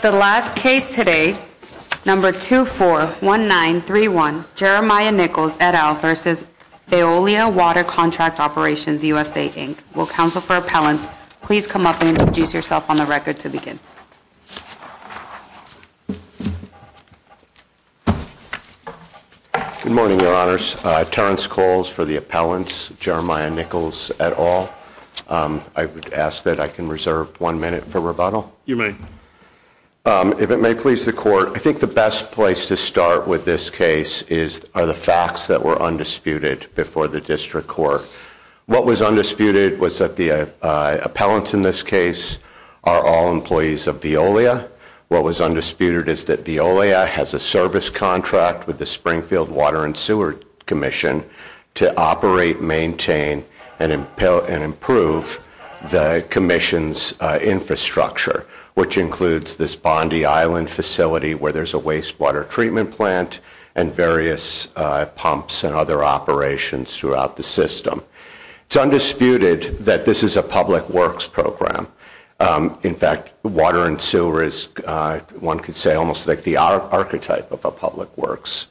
The last case today, number 241931, Jeremiah Nicholls, et al, versus Veolia Water Contract Operations USA, Inc. Will counsel for appellants please come up and introduce yourself on the record to begin. Good morning, your honors. Terrence Calls for the appellants, Jeremiah Nicholls, et al. I would ask that I can reserve one minute for rebuttal. You may. If it may please the court, I think the best place to start with this case are the facts that were undisputed before the district court. What was undisputed was that the appellants in this case are all employees of Veolia. What was undisputed is that Veolia has a service contract with the Springfield Water and Sewer Commission to operate, maintain, and improve the commission's infrastructure, which includes this Bondi Island facility where there's a wastewater treatment plant and various pumps and other operations throughout the system. It's undisputed that this is a public works program. In fact, water and sewer is, one could say, almost like the archetype of a public works.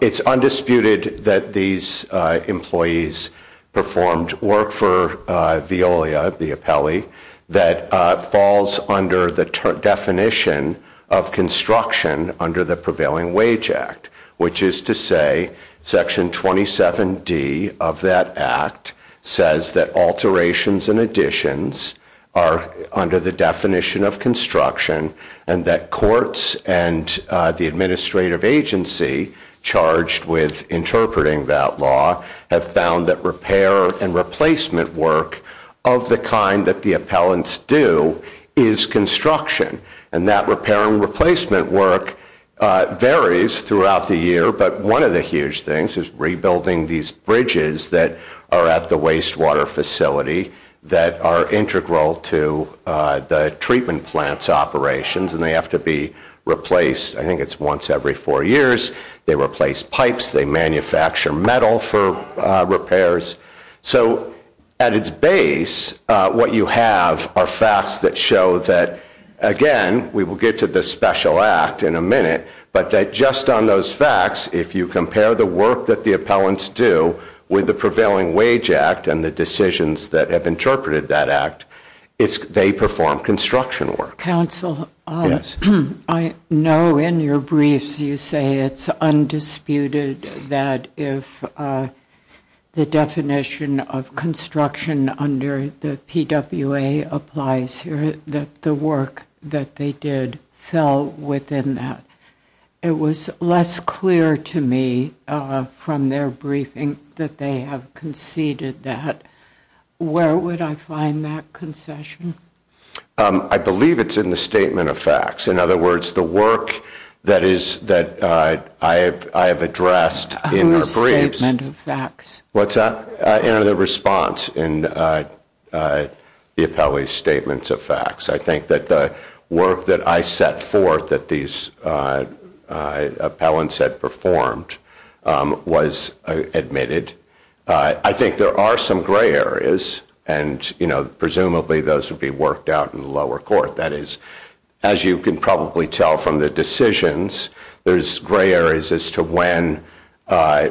It's undisputed that these employees performed work for Veolia, the appellee, that falls under the definition of construction under the Prevailing Wage Act, which is to say, section 27D of that act says that alterations and additions are under the definition of construction and that courts and the administrative agency charged with interpreting that law have found that repair and replacement work of the kind that the appellants do is construction. And that repair and replacement work varies throughout the year, but one of the huge things is rebuilding these bridges that are at the wastewater facility that are integral to the treatment plant's operations, and they have to be replaced, I think it's once every four years. They replace pipes. They manufacture metal for repairs. So at its base, what you have are facts that show that, again, we will get to the special act in a minute, but that just on those facts, if you compare the work that the appellants do with the Prevailing Wage Act and the decisions that have interpreted that they perform construction work. Counsel, I know in your briefs you say it's undisputed that if the definition of construction under the PWA applies here, that the work that they did fell within that. It was less clear to me from their briefing that they have conceded that. Where would I find that concession? I believe it's in the statement of facts. In other words, the work that I have addressed in our briefs. Whose statement of facts? Well, it's in the response in the appellee's statements of facts. I think that the work that I set forth that these appellants had performed was admitted. I think there are some gray areas, and presumably those would be worked out in the lower court. That is, as you can probably tell from the decisions, there's gray areas as to when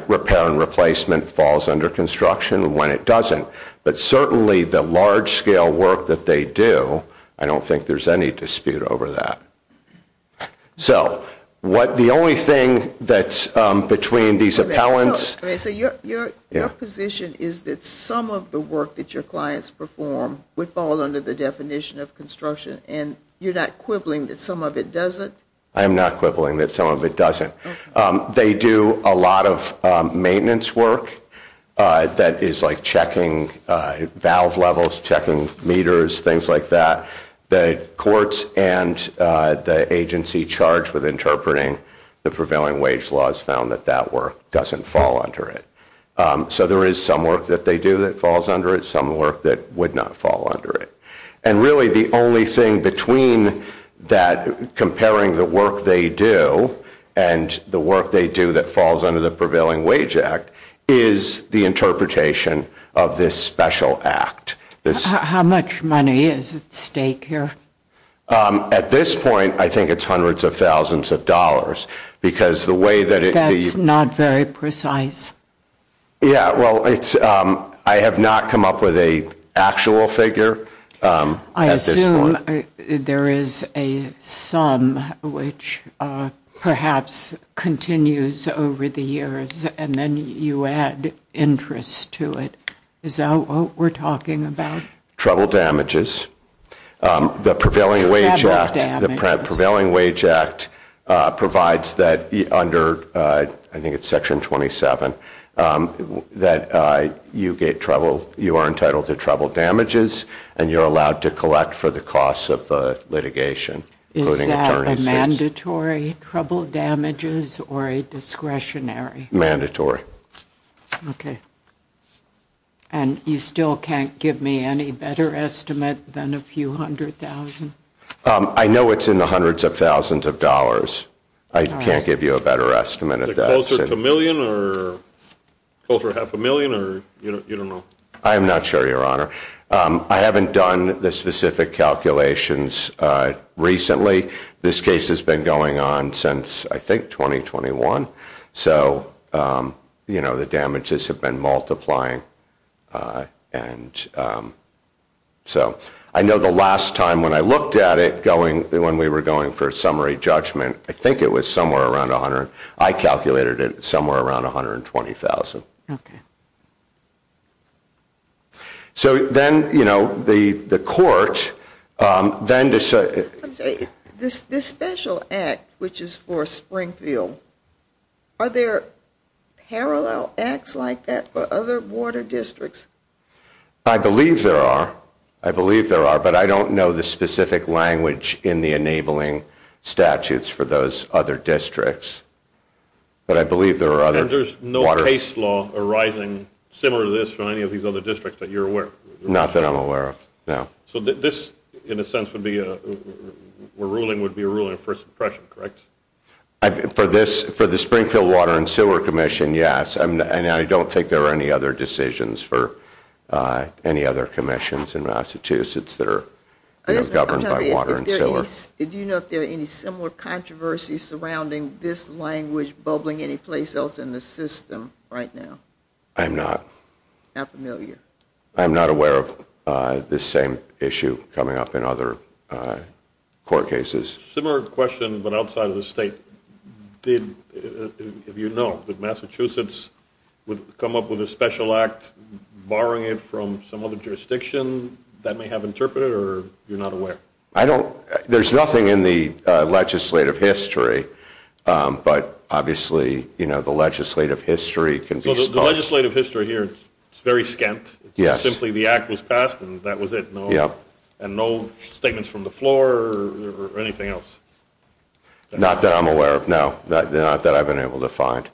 repair and replacement falls under construction and when it doesn't. But certainly, the large scale work that they do, I don't think there's any dispute over that. So the only thing that's between these appellants. So your position is that some of the work that your clients perform would fall under the definition of construction, and you're not quibbling that some of it doesn't? I am not quibbling that some of it doesn't. They do a lot of maintenance work that is like checking valve levels, checking meters, things like that. The courts and the agency charged with interpreting the prevailing wage laws found that that work doesn't fall under it. So there is some work that they do that falls under it, some work that would not fall under it. And really, the only thing between that comparing the work they do and the work they do that falls under the Prevailing Wage Act is the interpretation of this special act. How much money is at stake here? At this point, I think it's hundreds of thousands of dollars. Because the way that it... That's not very precise. Yeah, well, I have not come up with an actual figure at this point. I assume there is a sum which perhaps continues over the years, and then you add interest to it. Is that what we're talking about? Trouble damages. The Prevailing Wage Act provides that under, I think it's Section 27, that you are entitled to trouble damages, and you're allowed to collect for the costs of litigation. Is that a mandatory trouble damages or a discretionary? Mandatory. And you still can't give me any better estimate than a few hundred thousand? I know it's in the hundreds of thousands of dollars. I can't give you a better estimate of that. Is it closer to a million, or closer to half a million, or you don't know? I am not sure, Your Honour. I haven't done the specific calculations recently. This case has been going on since, I think, 2021. So, you know, the damages have been multiplying. And so, I know the last time when I looked at it going, when we were going for a summary judgment, I think it was somewhere around 100. I calculated it somewhere around 120,000. Okay. So, then, you know, the court then decided. This special act, which is for Springfield, are there parallel acts like that for other water districts? I believe there are. I believe there are, but I don't know the specific language in the enabling statutes for those other districts. But I believe there are other water. And there's no case law arising similar to this from any of these other districts that you're aware of? Not that I'm aware of, no. So, this, in a sense, would be a, we're ruling would be a ruling of first impression, correct? For this, for the Springfield Water and Sewer Commission, yes. And I don't think there are any other decisions for any other commissions in Massachusetts that are governed by water and sewer. Do you know if there are any similar controversies surrounding this language bubbling anyplace else in the system right now? I'm not. Not familiar. I'm not aware of this same issue coming up in other court cases. Similar question, but outside of the state. Did, if you know, did Massachusetts come up with a special act, borrowing it from some other jurisdiction that may have interpreted it, or you're not aware? I don't, there's nothing in the legislative history. But obviously, you know, the legislative history can be. The legislative history here, it's very scant. Simply the act was passed and that was it. And no statements from the floor or anything else. Not that I'm aware of, no. Not that I've been able to find.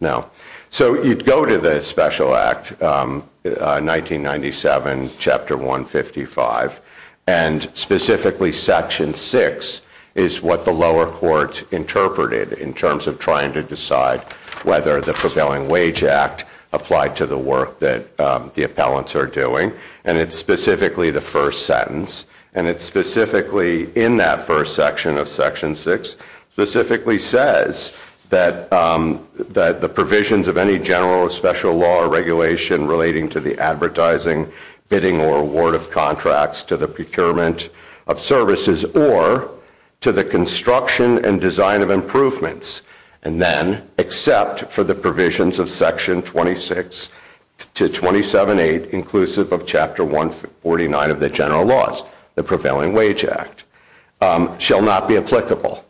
No. So, you'd go to the special act, 1997, chapter 155. And specifically, section six is what the lower court interpreted in terms of trying to decide whether the prevailing wage act applied to the work that the appellants are doing. And it's specifically the first sentence. And it specifically, in that first section of section six, specifically says that the provisions of any general or special law or regulation relating to the advertising, bidding, or award of contracts to the procurement of services or to the construction and design of improvements, and then except for the provisions of section 26 to 278, inclusive of chapter 149 of the general laws, the prevailing wage act, shall not be applicable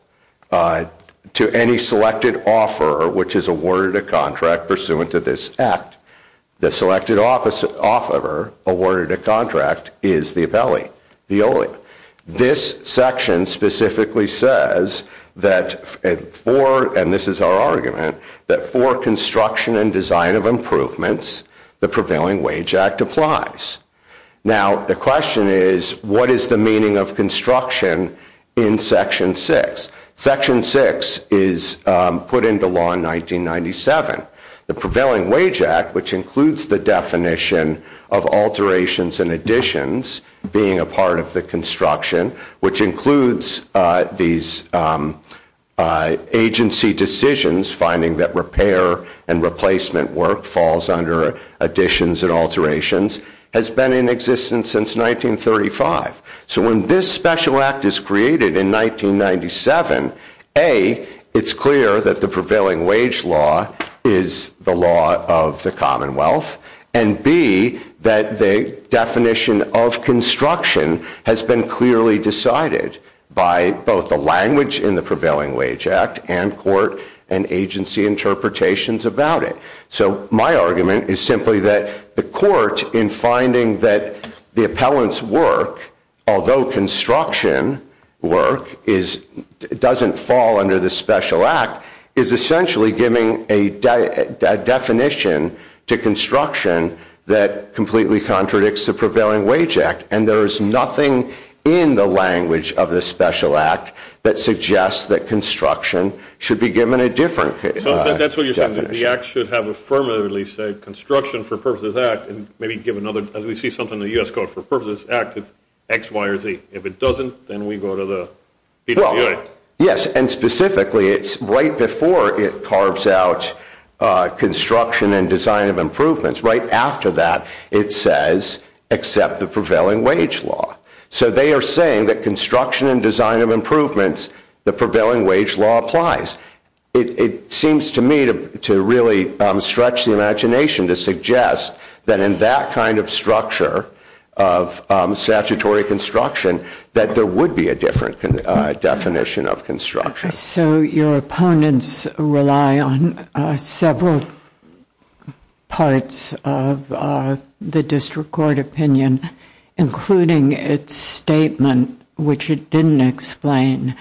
to any selected offeror, which is awarded a contract pursuant to this act. The selected offeror awarded a contract is the appellee, the ole. This section specifically says that for, and this is our argument, that for construction and design of improvements, the prevailing wage act applies. Now, the question is, what is the meaning of construction in section six? Section six is put into law in 1997. The prevailing wage act, which includes the definition of alterations and additions being a part of the construction, which includes these agency decisions, finding that repair and replacement work falls under additions and alterations, has been in existence since 1935. So when this special act is created in 1997, A, it's clear that the prevailing wage law is the law of the Commonwealth, and B, that the definition of construction has been clearly decided by both the language in the prevailing wage act and court and agency interpretations about it. So my argument is simply that the court, in finding that the appellant's work, although construction work doesn't fall under the special act, is essentially giving a definition to construction that completely contradicts the prevailing wage act. And there is nothing in the language of the special act that suggests that construction should be given a different definition. So that's what you're saying, that the act should have affirmatively said construction for purposes of the act, and maybe give another, as we see something in the US code for purposes of the act, it's x, y, or z. If it doesn't, then we go to the people in the unit. Yes, and specifically, it's right before it carves out construction and design of improvements. Right after that, it says, accept the prevailing wage law. So they are saying that construction and design of improvements, the prevailing wage law applies. It seems to me to really stretch the imagination to suggest that in that kind of structure of statutory construction, that there would be a different definition of construction. So your opponents rely on several parts of the district court opinion, including its statement, which it didn't explain,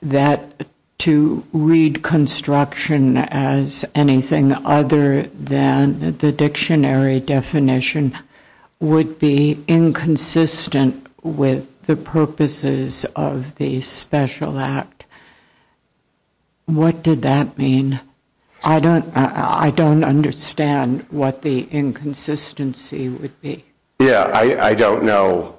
that to read construction as anything other than the dictionary definition would be inconsistent with the purposes of the special act. What did that mean? I don't understand what the inconsistency would be. Yeah, I don't know.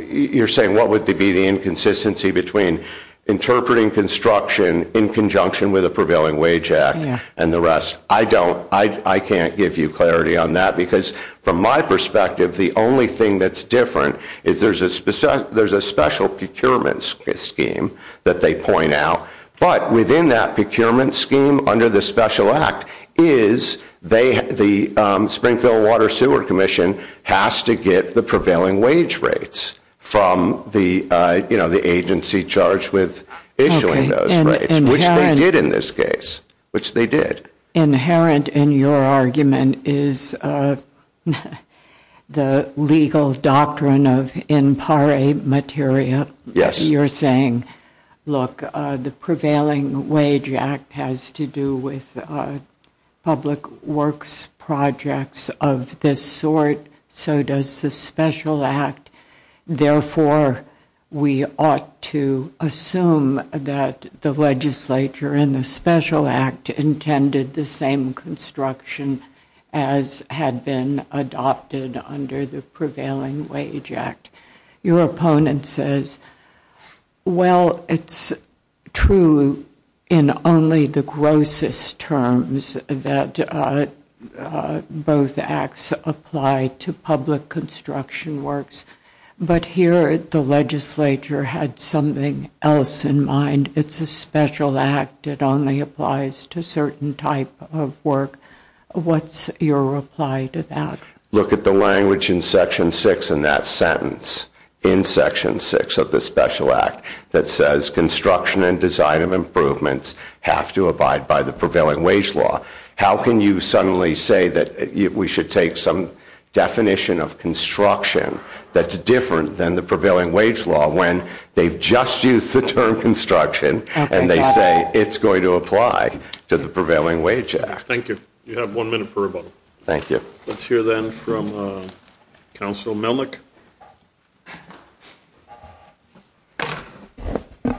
You're saying, what would be the inconsistency between interpreting construction in conjunction with a prevailing wage act and the rest? I don't. I can't give you clarity on that. Because from my perspective, the only thing that's different is there's a special procurement scheme that they point out. But within that procurement scheme under the special act is the Springfield Water Sewer Commission has to get the prevailing wage rates from the agency charged with issuing those rates, which they did in this case. Which they did. Inherent in your argument is the legal doctrine of impare materia. You're saying, look, the prevailing wage act has to do with public works projects of this sort. So does the special act. Therefore, we ought to assume that the legislature in the special act intended the same construction as had been adopted under the prevailing wage act. Your opponent says, well, it's true in only the grossest terms that both acts apply to public construction works. But here, the legislature had something else in mind. It's a special act. It only applies to certain type of work. What's your reply to that? Look at the language in section six in that sentence. In section six of the special act that says, construction and design of improvements have to abide by the prevailing wage law. How can you suddenly say that we should take some definition of construction that's different than the prevailing wage law when they've just used the term construction and they say it's going to apply to the prevailing wage act? Thank you. You have one minute for rebuttal. Thank you. Let's hear then from Council Melnick.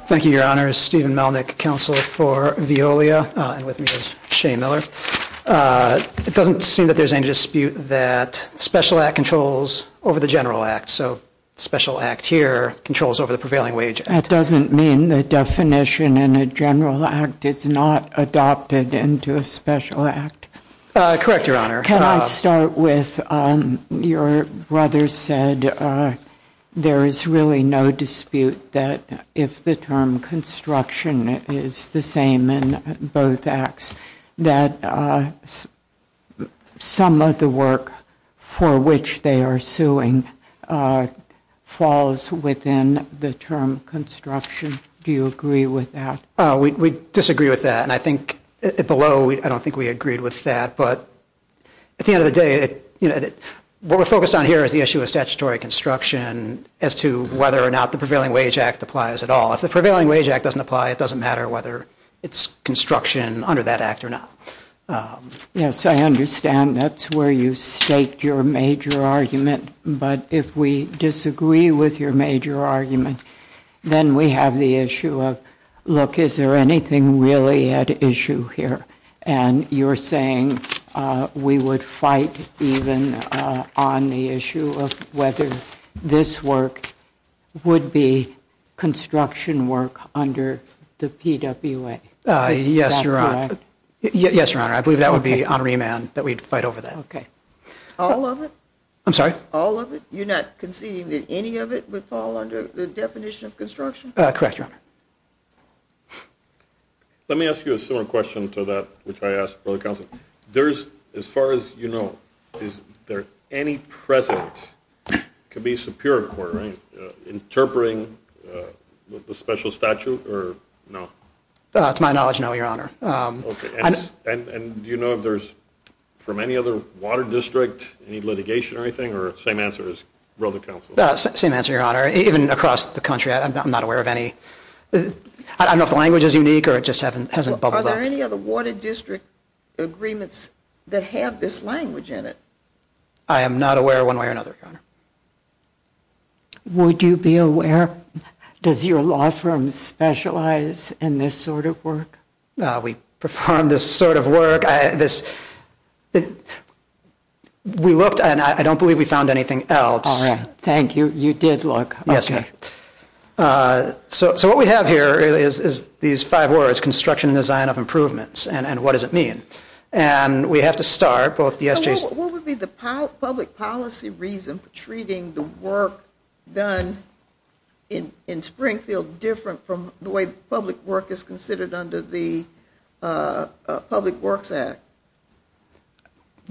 Thank you, Your Honor. Steven Melnick, counsel for Veolia. And with me is Shane Miller. It doesn't seem that there's any dispute that special act controls over the general act. So special act here controls over the prevailing wage act. That doesn't mean the definition in a general act is not adopted into a special act. Correct, Your Honor. Can I start with, your brother said there is really no dispute that if the term construction is the same in both acts, that some of the work for which they are suing falls within the term construction. Do you agree with that? We disagree with that. And I think below, I don't think we agreed with that. But at the end of the day, what we're focused on here is the issue of statutory construction as to whether or not the prevailing wage act applies at all. If the prevailing wage act doesn't apply, it doesn't matter whether it's construction under that act or not. Yes, I understand. That's where you state your major argument. But if we disagree with your major argument, then we have the issue of, look, is there anything really at issue here? And you're saying we would fight even on the issue of whether this work would be construction work under the PWA. Yes, Your Honor. Yes, Your Honor. I believe that would be on remand that we'd fight over that. All of it? I'm sorry? All of it? You're not conceding that any of it would fall under the definition of construction? Correct, Your Honor. Let me ask you a similar question to that which I asked for the counsel. As far as you know, is there any precedent could be superior court, right? Interpreting the special statute or no? To my knowledge, no, Your Honor. And do you know if there's, from any other water district, any litigation or anything? Or same answer as wrote the counsel? Same answer, Your Honor. Even across the country, I'm not aware of any. I don't know if the language is unique, or it just hasn't bubbled up. Are there any other water district agreements that have this language in it? I am not aware one way or another, Your Honor. Would you be aware? Does your law firm specialize in this sort of work? We perform this sort of work. We looked, and I don't believe we found anything else. All right. Thank you. You did look. Yes, ma'am. So what we have here is these five words, construction and design of improvements. And what does it mean? And we have to start both the SJC's. What would be the public policy reason for treating the work done in Springfield different from the way public work is considered under the Public Works Act?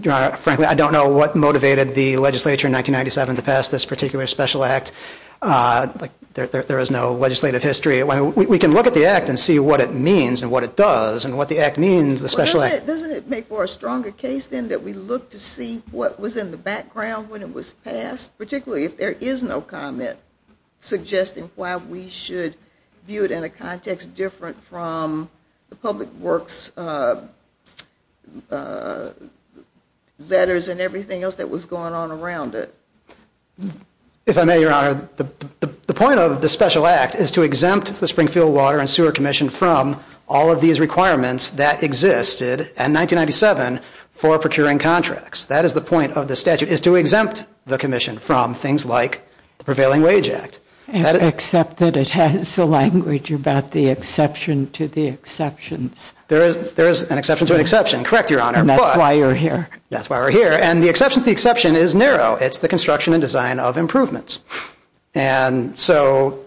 Your Honor, frankly, I don't know what motivated the legislature in 1997 to pass this particular special act. There is no legislative history. We can look at the act and see what it means, and what it does, and what the act means, the special act. Doesn't it make for a stronger case, then, that we look to see what was in the background when it was passed, particularly if there is no comment suggesting why we should view it in a context different from the public works letters and everything else that was going on around it? If I may, Your Honor, the point of the special act is to exempt the Springfield Water and Sewer Commission from all of these requirements that existed in 1997 for procuring contracts. That is the point of the statute, is to exempt the commission from things like the Prevailing Wage Act. Except that it has the language about the exception to the exceptions. There is an exception to an exception. Correct, Your Honor. And that's why you're here. That's why we're here. And the exception to the exception is narrow. It's the construction and design of improvements. And so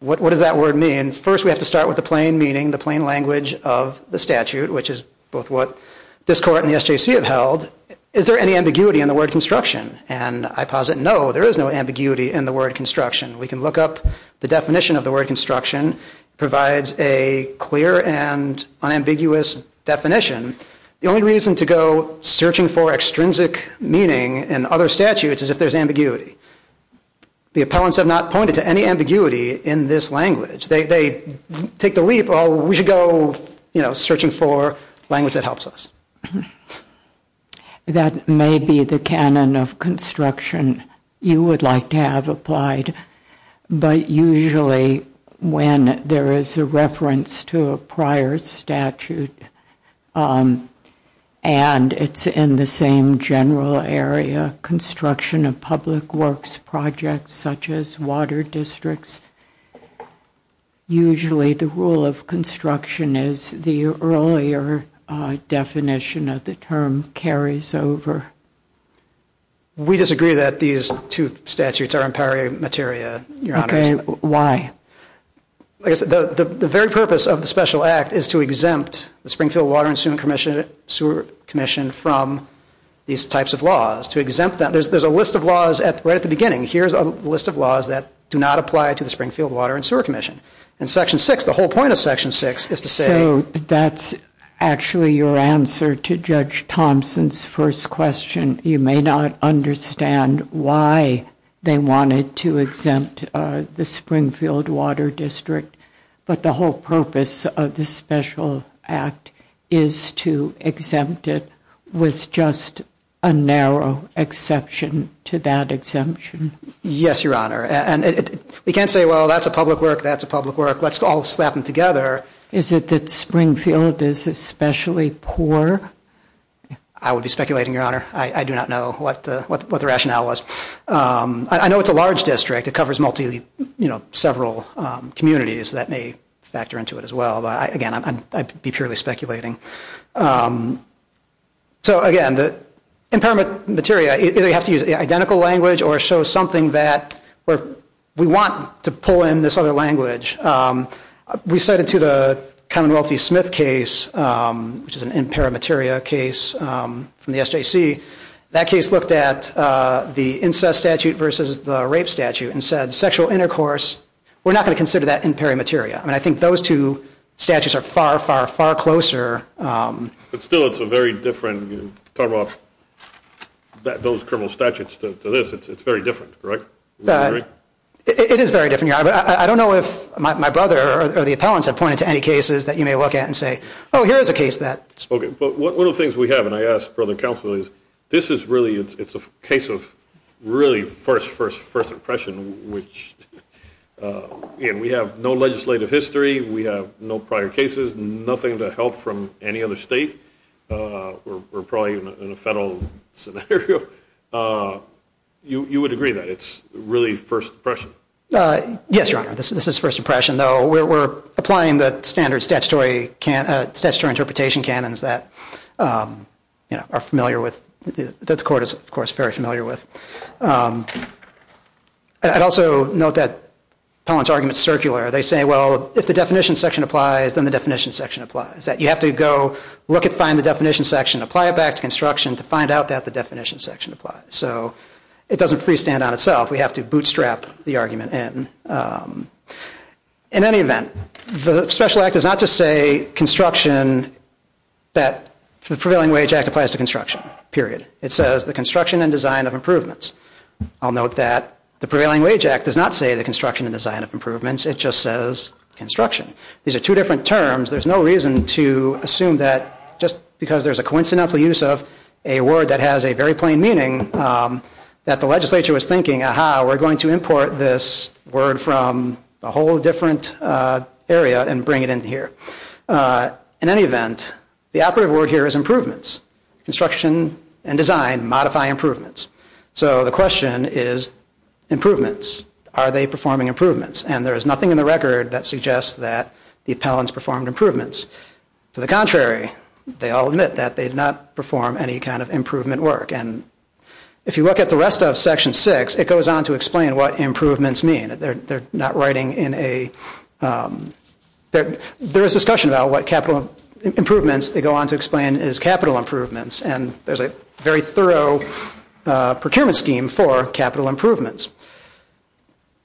what does that word mean? First, we have to start with the plain meaning, the plain language of the statute, which is both what this court and the SJC have held. Is there any ambiguity in the word construction? And I posit no, there is no ambiguity in the word construction. We can look up the definition of the word construction. Provides a clear and unambiguous definition. The only reason to go searching for extrinsic meaning in other statutes is if there's ambiguity. The appellants have not pointed to any ambiguity in this language. They take the leap, oh, we should go searching for language that helps us. That may be the canon of construction you would like to have applied. But usually when there is a reference to a prior statute and it's in the same general area, construction of public works projects, such as water districts, usually the rule of construction is the earlier definition of the term carries over. We disagree that these two statutes are imperimateria, OK, why? The very purpose of the special act is to exempt the Springfield Water and Sewer Commission from these types of laws. To exempt them. There's a list of laws right at the beginning. Here's a list of laws that do not apply to the Springfield Water and Sewer Commission. In section six, the whole point of section six is to say. So that's actually your answer to Judge Thompson's first question. You may not understand why they wanted to exempt the Springfield Water District, but the whole purpose of the special act is to exempt it with just a narrow exception to that exemption. Yes, Your Honor. And we can't say, well, that's a public work, that's a public work, let's all slap them together. Is it that Springfield is especially poor? I would be speculating, Your Honor. I do not know what the rationale was. I know it's a large district. It covers multiple, several communities that may factor into it as well. But again, I'd be purely speculating. So again, the imperimateria, either you have to use identical language or show something that we want to pull in this other language. We cited to the Commonwealth v. Smith case, which is an imperimateria case from the SJC. That case looked at the incest statute versus the rape statute and said sexual intercourse, we're not going to consider that imperimateria. I think those two statutes are far, far, far closer. But still, it's a very different, talk about those criminal statutes to this, it's very different, correct? It is very different, Your Honor. But I don't know if my brother or the appellants have pointed to any cases that you may look at and say, oh, here's a case that's spoken. But one of the things we have, and I ask Brother Counsel, is this is really, it's a case of really first, first, first impression, which we have no legislative history, we have no prior cases, nothing to help from any other state. We're probably in a federal scenario. You would agree that it's really first impression? Yes, Your Honor, this is first impression, though. We're applying the standard statutory interpretation canons that are familiar with, that the court is, of course, very familiar with. I'd also note that appellant's argument is circular. They say, well, if the definition section applies, then the definition section applies. You have to go look and find the definition section, apply it back to construction to find out that the definition section applies. So it doesn't freestand on itself. We have to bootstrap the argument in. In any event, the Special Act does not just say construction, that the Prevailing Wage Act applies to construction, period. It says the construction and design of improvements. I'll note that the Prevailing Wage Act does not say the construction and design of improvements. It just says construction. These are two different terms. There's no reason to assume that just because there's a coincidental use of a word that has a very plain meaning, that the legislature was thinking, aha, we're going to import this word from a whole different area and bring it in here. In any event, the operative word here is improvements. Construction and design modify improvements. So the question is, improvements. Are they performing improvements? And there is nothing in the record that suggests that the appellants performed improvements. To the contrary, they all admit that they did not perform any kind of improvement work. And if you look at the rest of Section 6, it goes on to explain what improvements mean. They're not writing in a, there is discussion about what capital improvements. They go on to explain is capital improvements. And there's a very thorough procurement scheme for capital improvements.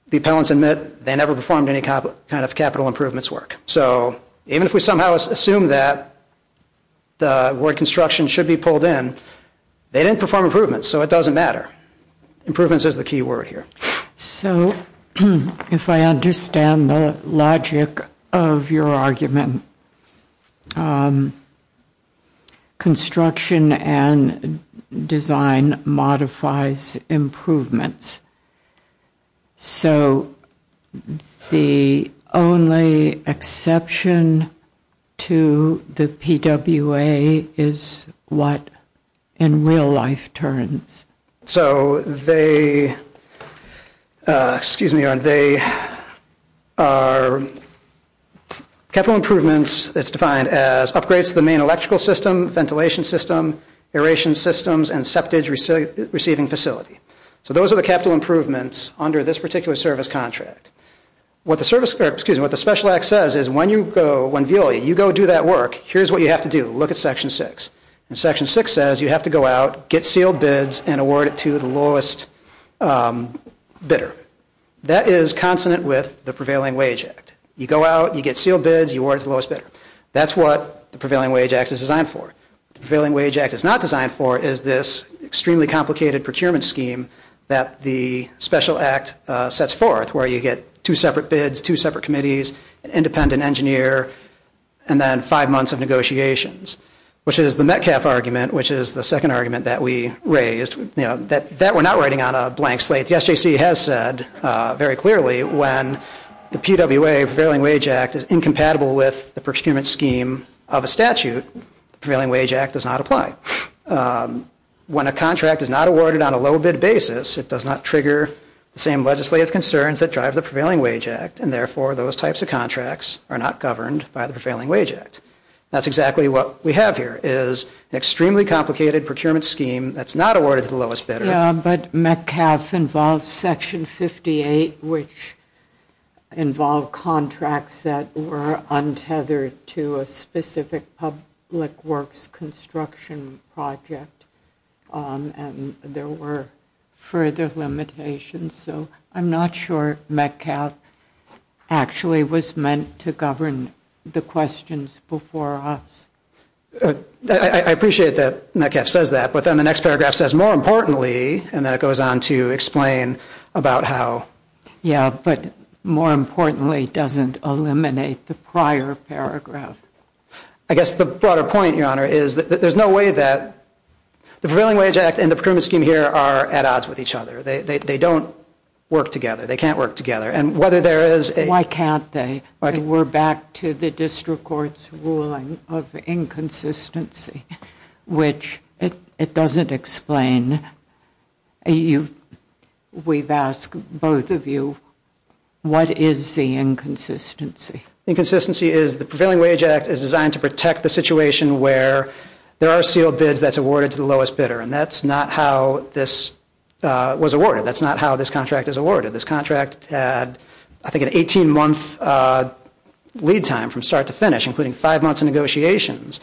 The appellants admit they never performed any kind of capital improvements work. So even if we somehow assume that the word construction should be pulled in, they didn't perform improvements. So it doesn't matter. Improvements is the key word here. So if I understand the logic of your argument, construction and design modifies improvements. So the only exception to the PWA is what in real life turns. So they are capital improvements that's defined as upgrades to the main electrical system, ventilation system, aeration systems, and septage receiving facility. So those are the capital improvements under this particular service contract. What the Special Act says is when VLA, you go do that work, here's what you have to do. Look at Section 6. And Section 6 says you have to go out, get sealed bids, and award it to the lowest bidder. That is consonant with the Prevailing Wage Act. You go out, you get sealed bids, you award it to the lowest bidder. That's what the Prevailing Wage Act is designed for. The Prevailing Wage Act is not designed for is this extremely complicated procurement scheme that the Special Act sets forth, where you get two separate bids, two separate committees, an independent engineer, and then five months of negotiations, which is the Metcalf argument, which is the second argument that we raised, that we're not writing on a blank slate. The SJC has said very clearly when the PWA, Prevailing Wage Act, is incompatible with the procurement scheme of a statute, the Prevailing Wage Act does not apply. When a contract is not awarded on a low bid basis, it does not trigger the same legislative concerns that drive the Prevailing Wage Act. And therefore, those types of contracts are not governed by the Prevailing Wage Act. That's exactly what we have here, is an extremely complicated procurement scheme that's not awarded to the lowest bidder. Yeah, but Metcalf involves Section 58, which involved contracts that were untethered to a specific public works construction project. And there were further limitations. So I'm not sure Metcalf actually was meant to govern the questions before us. I appreciate that Metcalf says that. But then the next paragraph says, more importantly, and then it goes on to explain about how. Yeah, but more importantly, doesn't eliminate the prior paragraph. I guess the broader point, Your Honor, is that there's no way that the Prevailing Wage Act and the procurement scheme here are at odds with each other. They don't work together. They can't work together. And whether there is a- Why can't they? We're back to the district court's ruling of inconsistency, which it doesn't explain. We've asked both of you, what is the inconsistency? Inconsistency is the Prevailing Wage Act is designed to protect the situation where there are sealed bids that's awarded to the lowest bidder. And that's not how this was awarded. That's not how this contract is awarded. This contract had, I think, an 18-month lead time from start to finish, including five months of negotiations.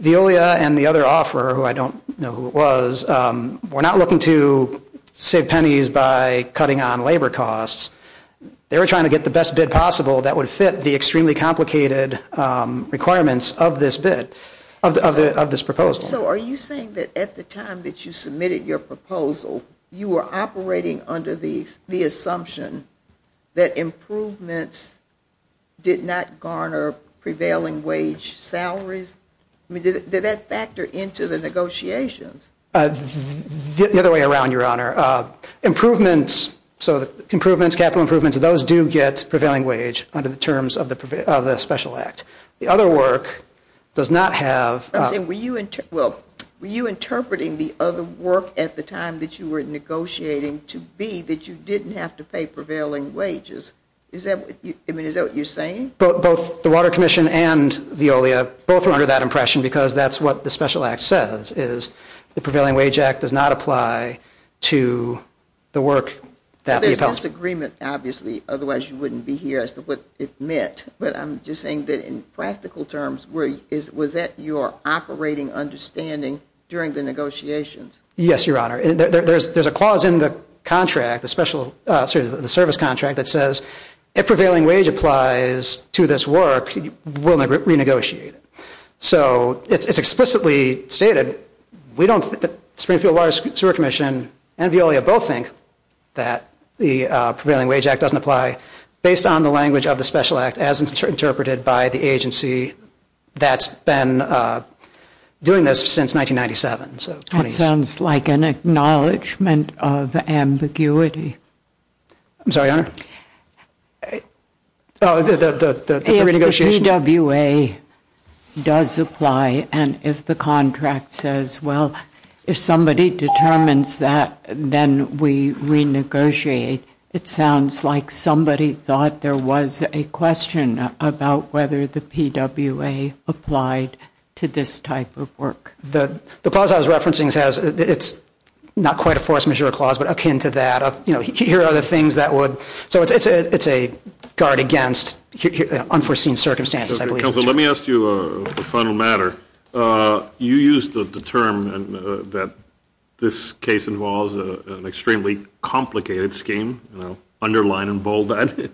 Veolia and the other offeror, who I don't know who it was, were not looking to save pennies by cutting on labor costs. They were trying to get the best bid possible that would fit the extremely complicated requirements of this bid, of this proposal. So are you saying that at the time that you submitted your proposal, you were operating under the assumption that improvements did not garner prevailing wage salaries? I mean, did that factor into the negotiations? The other way around, Your Honor. Improvements, so improvements, capital improvements, those do get prevailing wage under the terms of the Special Act. The other work does not have- I'm saying, were you interpreting the other work at the time that you were negotiating to be that you didn't have to pay prevailing wages? Is that what you're saying? Both the Water Commission and Veolia both were under that impression, because that's what the Special Act says, is the Prevailing Wage Act does not apply to the work that we've helped- There's disagreement, obviously. Otherwise, you wouldn't be here as to what it meant. But I'm just saying that in practical terms, was that your operating understanding during the negotiations? Yes, Your Honor. There's a clause in the contract, the service contract, that says if prevailing wage applies to this work, we'll renegotiate it. So it's explicitly stated. Springfield Water Sewer Commission and Veolia both think that the Prevailing Wage Act doesn't apply based on the language of the Special Act, as interpreted by the agency that's been doing this since 1997. That sounds like an acknowledgment of ambiguity. I'm sorry, Your Honor? Oh, the renegotiation? If the PWA does apply, and if the contract says, well, if somebody determines that, then we renegotiate. It sounds like somebody thought there was a question about whether the PWA applied to this type of work. The clause I was referencing says it's not quite a force majeure clause, but akin to that. Here are the things that would. So it's a guard against unforeseen circumstances, I believe. Counsel, let me ask you a final matter. You used the term that this case involves an extremely complicated scheme, underline and bold that.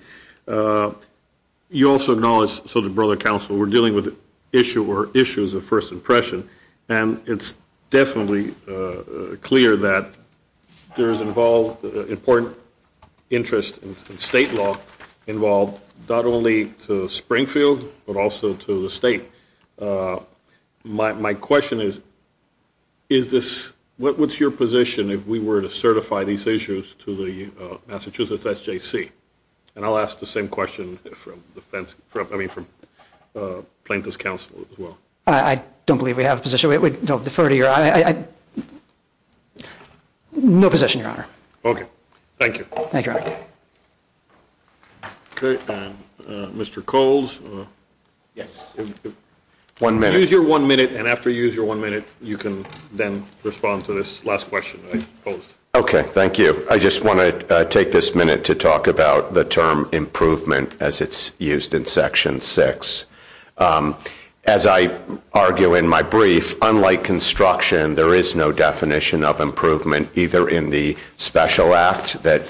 You also acknowledged, so did Brother Counsel, we're dealing with issues of first impression. And it's definitely clear that there is important interest in state law involved, not only to Springfield, but also to the state. My question is, what's your position if we were to certify these issues to the Massachusetts SJC? And I'll ask the same question from Plaintiff's Counsel, as well. I don't believe we have a position. We don't defer to your eye. No position, Your Honor. OK. Thank you. Thank you, Your Honor. OK. Mr. Coles? Yes. One minute. Use your one minute, and after you use your one minute, you can then respond to this last question I posed. OK, thank you. I just want to take this minute to talk about the term improvement, as it's used in Section 6. As I argue in my brief, unlike construction, there is no definition of improvement, either in the special act that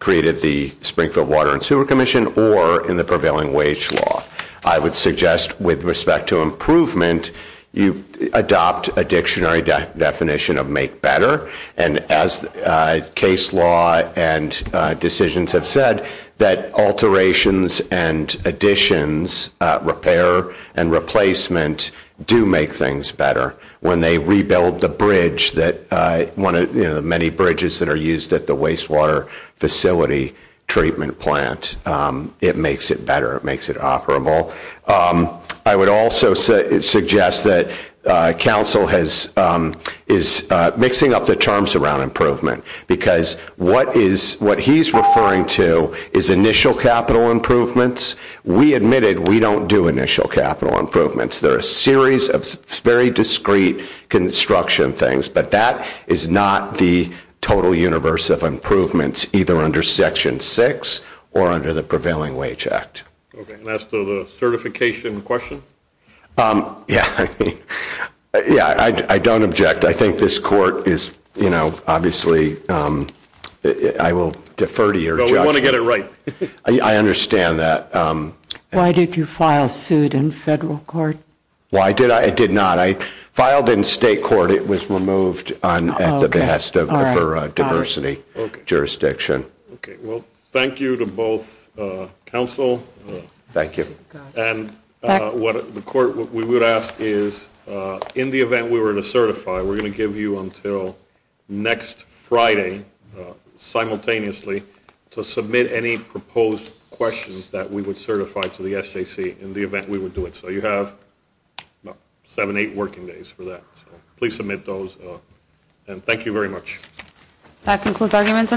created the Springfield Water and Sewer Commission, or in the prevailing wage law. I would suggest, with respect to improvement, you adopt a dictionary definition of make better. And as case law and decisions have said, that alterations and additions, repair and replacement, do make things better. When they rebuild the bridge, the many bridges that are used at the wastewater facility treatment plant, it makes it better. It makes it operable. I would also suggest that counsel is mixing up the terms around improvement, because what he's referring to is initial capital improvements. We admitted we don't do initial capital improvements. They're a series of very discrete construction things. But that is not the total universe of improvements, either under Section 6 or under the Prevailing Wage Act. OK, and as to the certification question? Yeah, I don't object. I think this court is, you know, obviously, I will defer to your judgment. But we want to get it right. I understand that. Why did you file suit in federal court? Why did I? I did not. I filed in state court. It was removed at the behest of the diversity jurisdiction. OK, well, thank you to both counsel. Thank you. And what we would ask is, in the event we were to certify, we're going to give you until next Friday, simultaneously, to submit any proposed questions that we would certify to the SJC in the event we would do it. So you have about seven, eight working days for that. Please submit those. And thank you very much. That concludes arguments on that.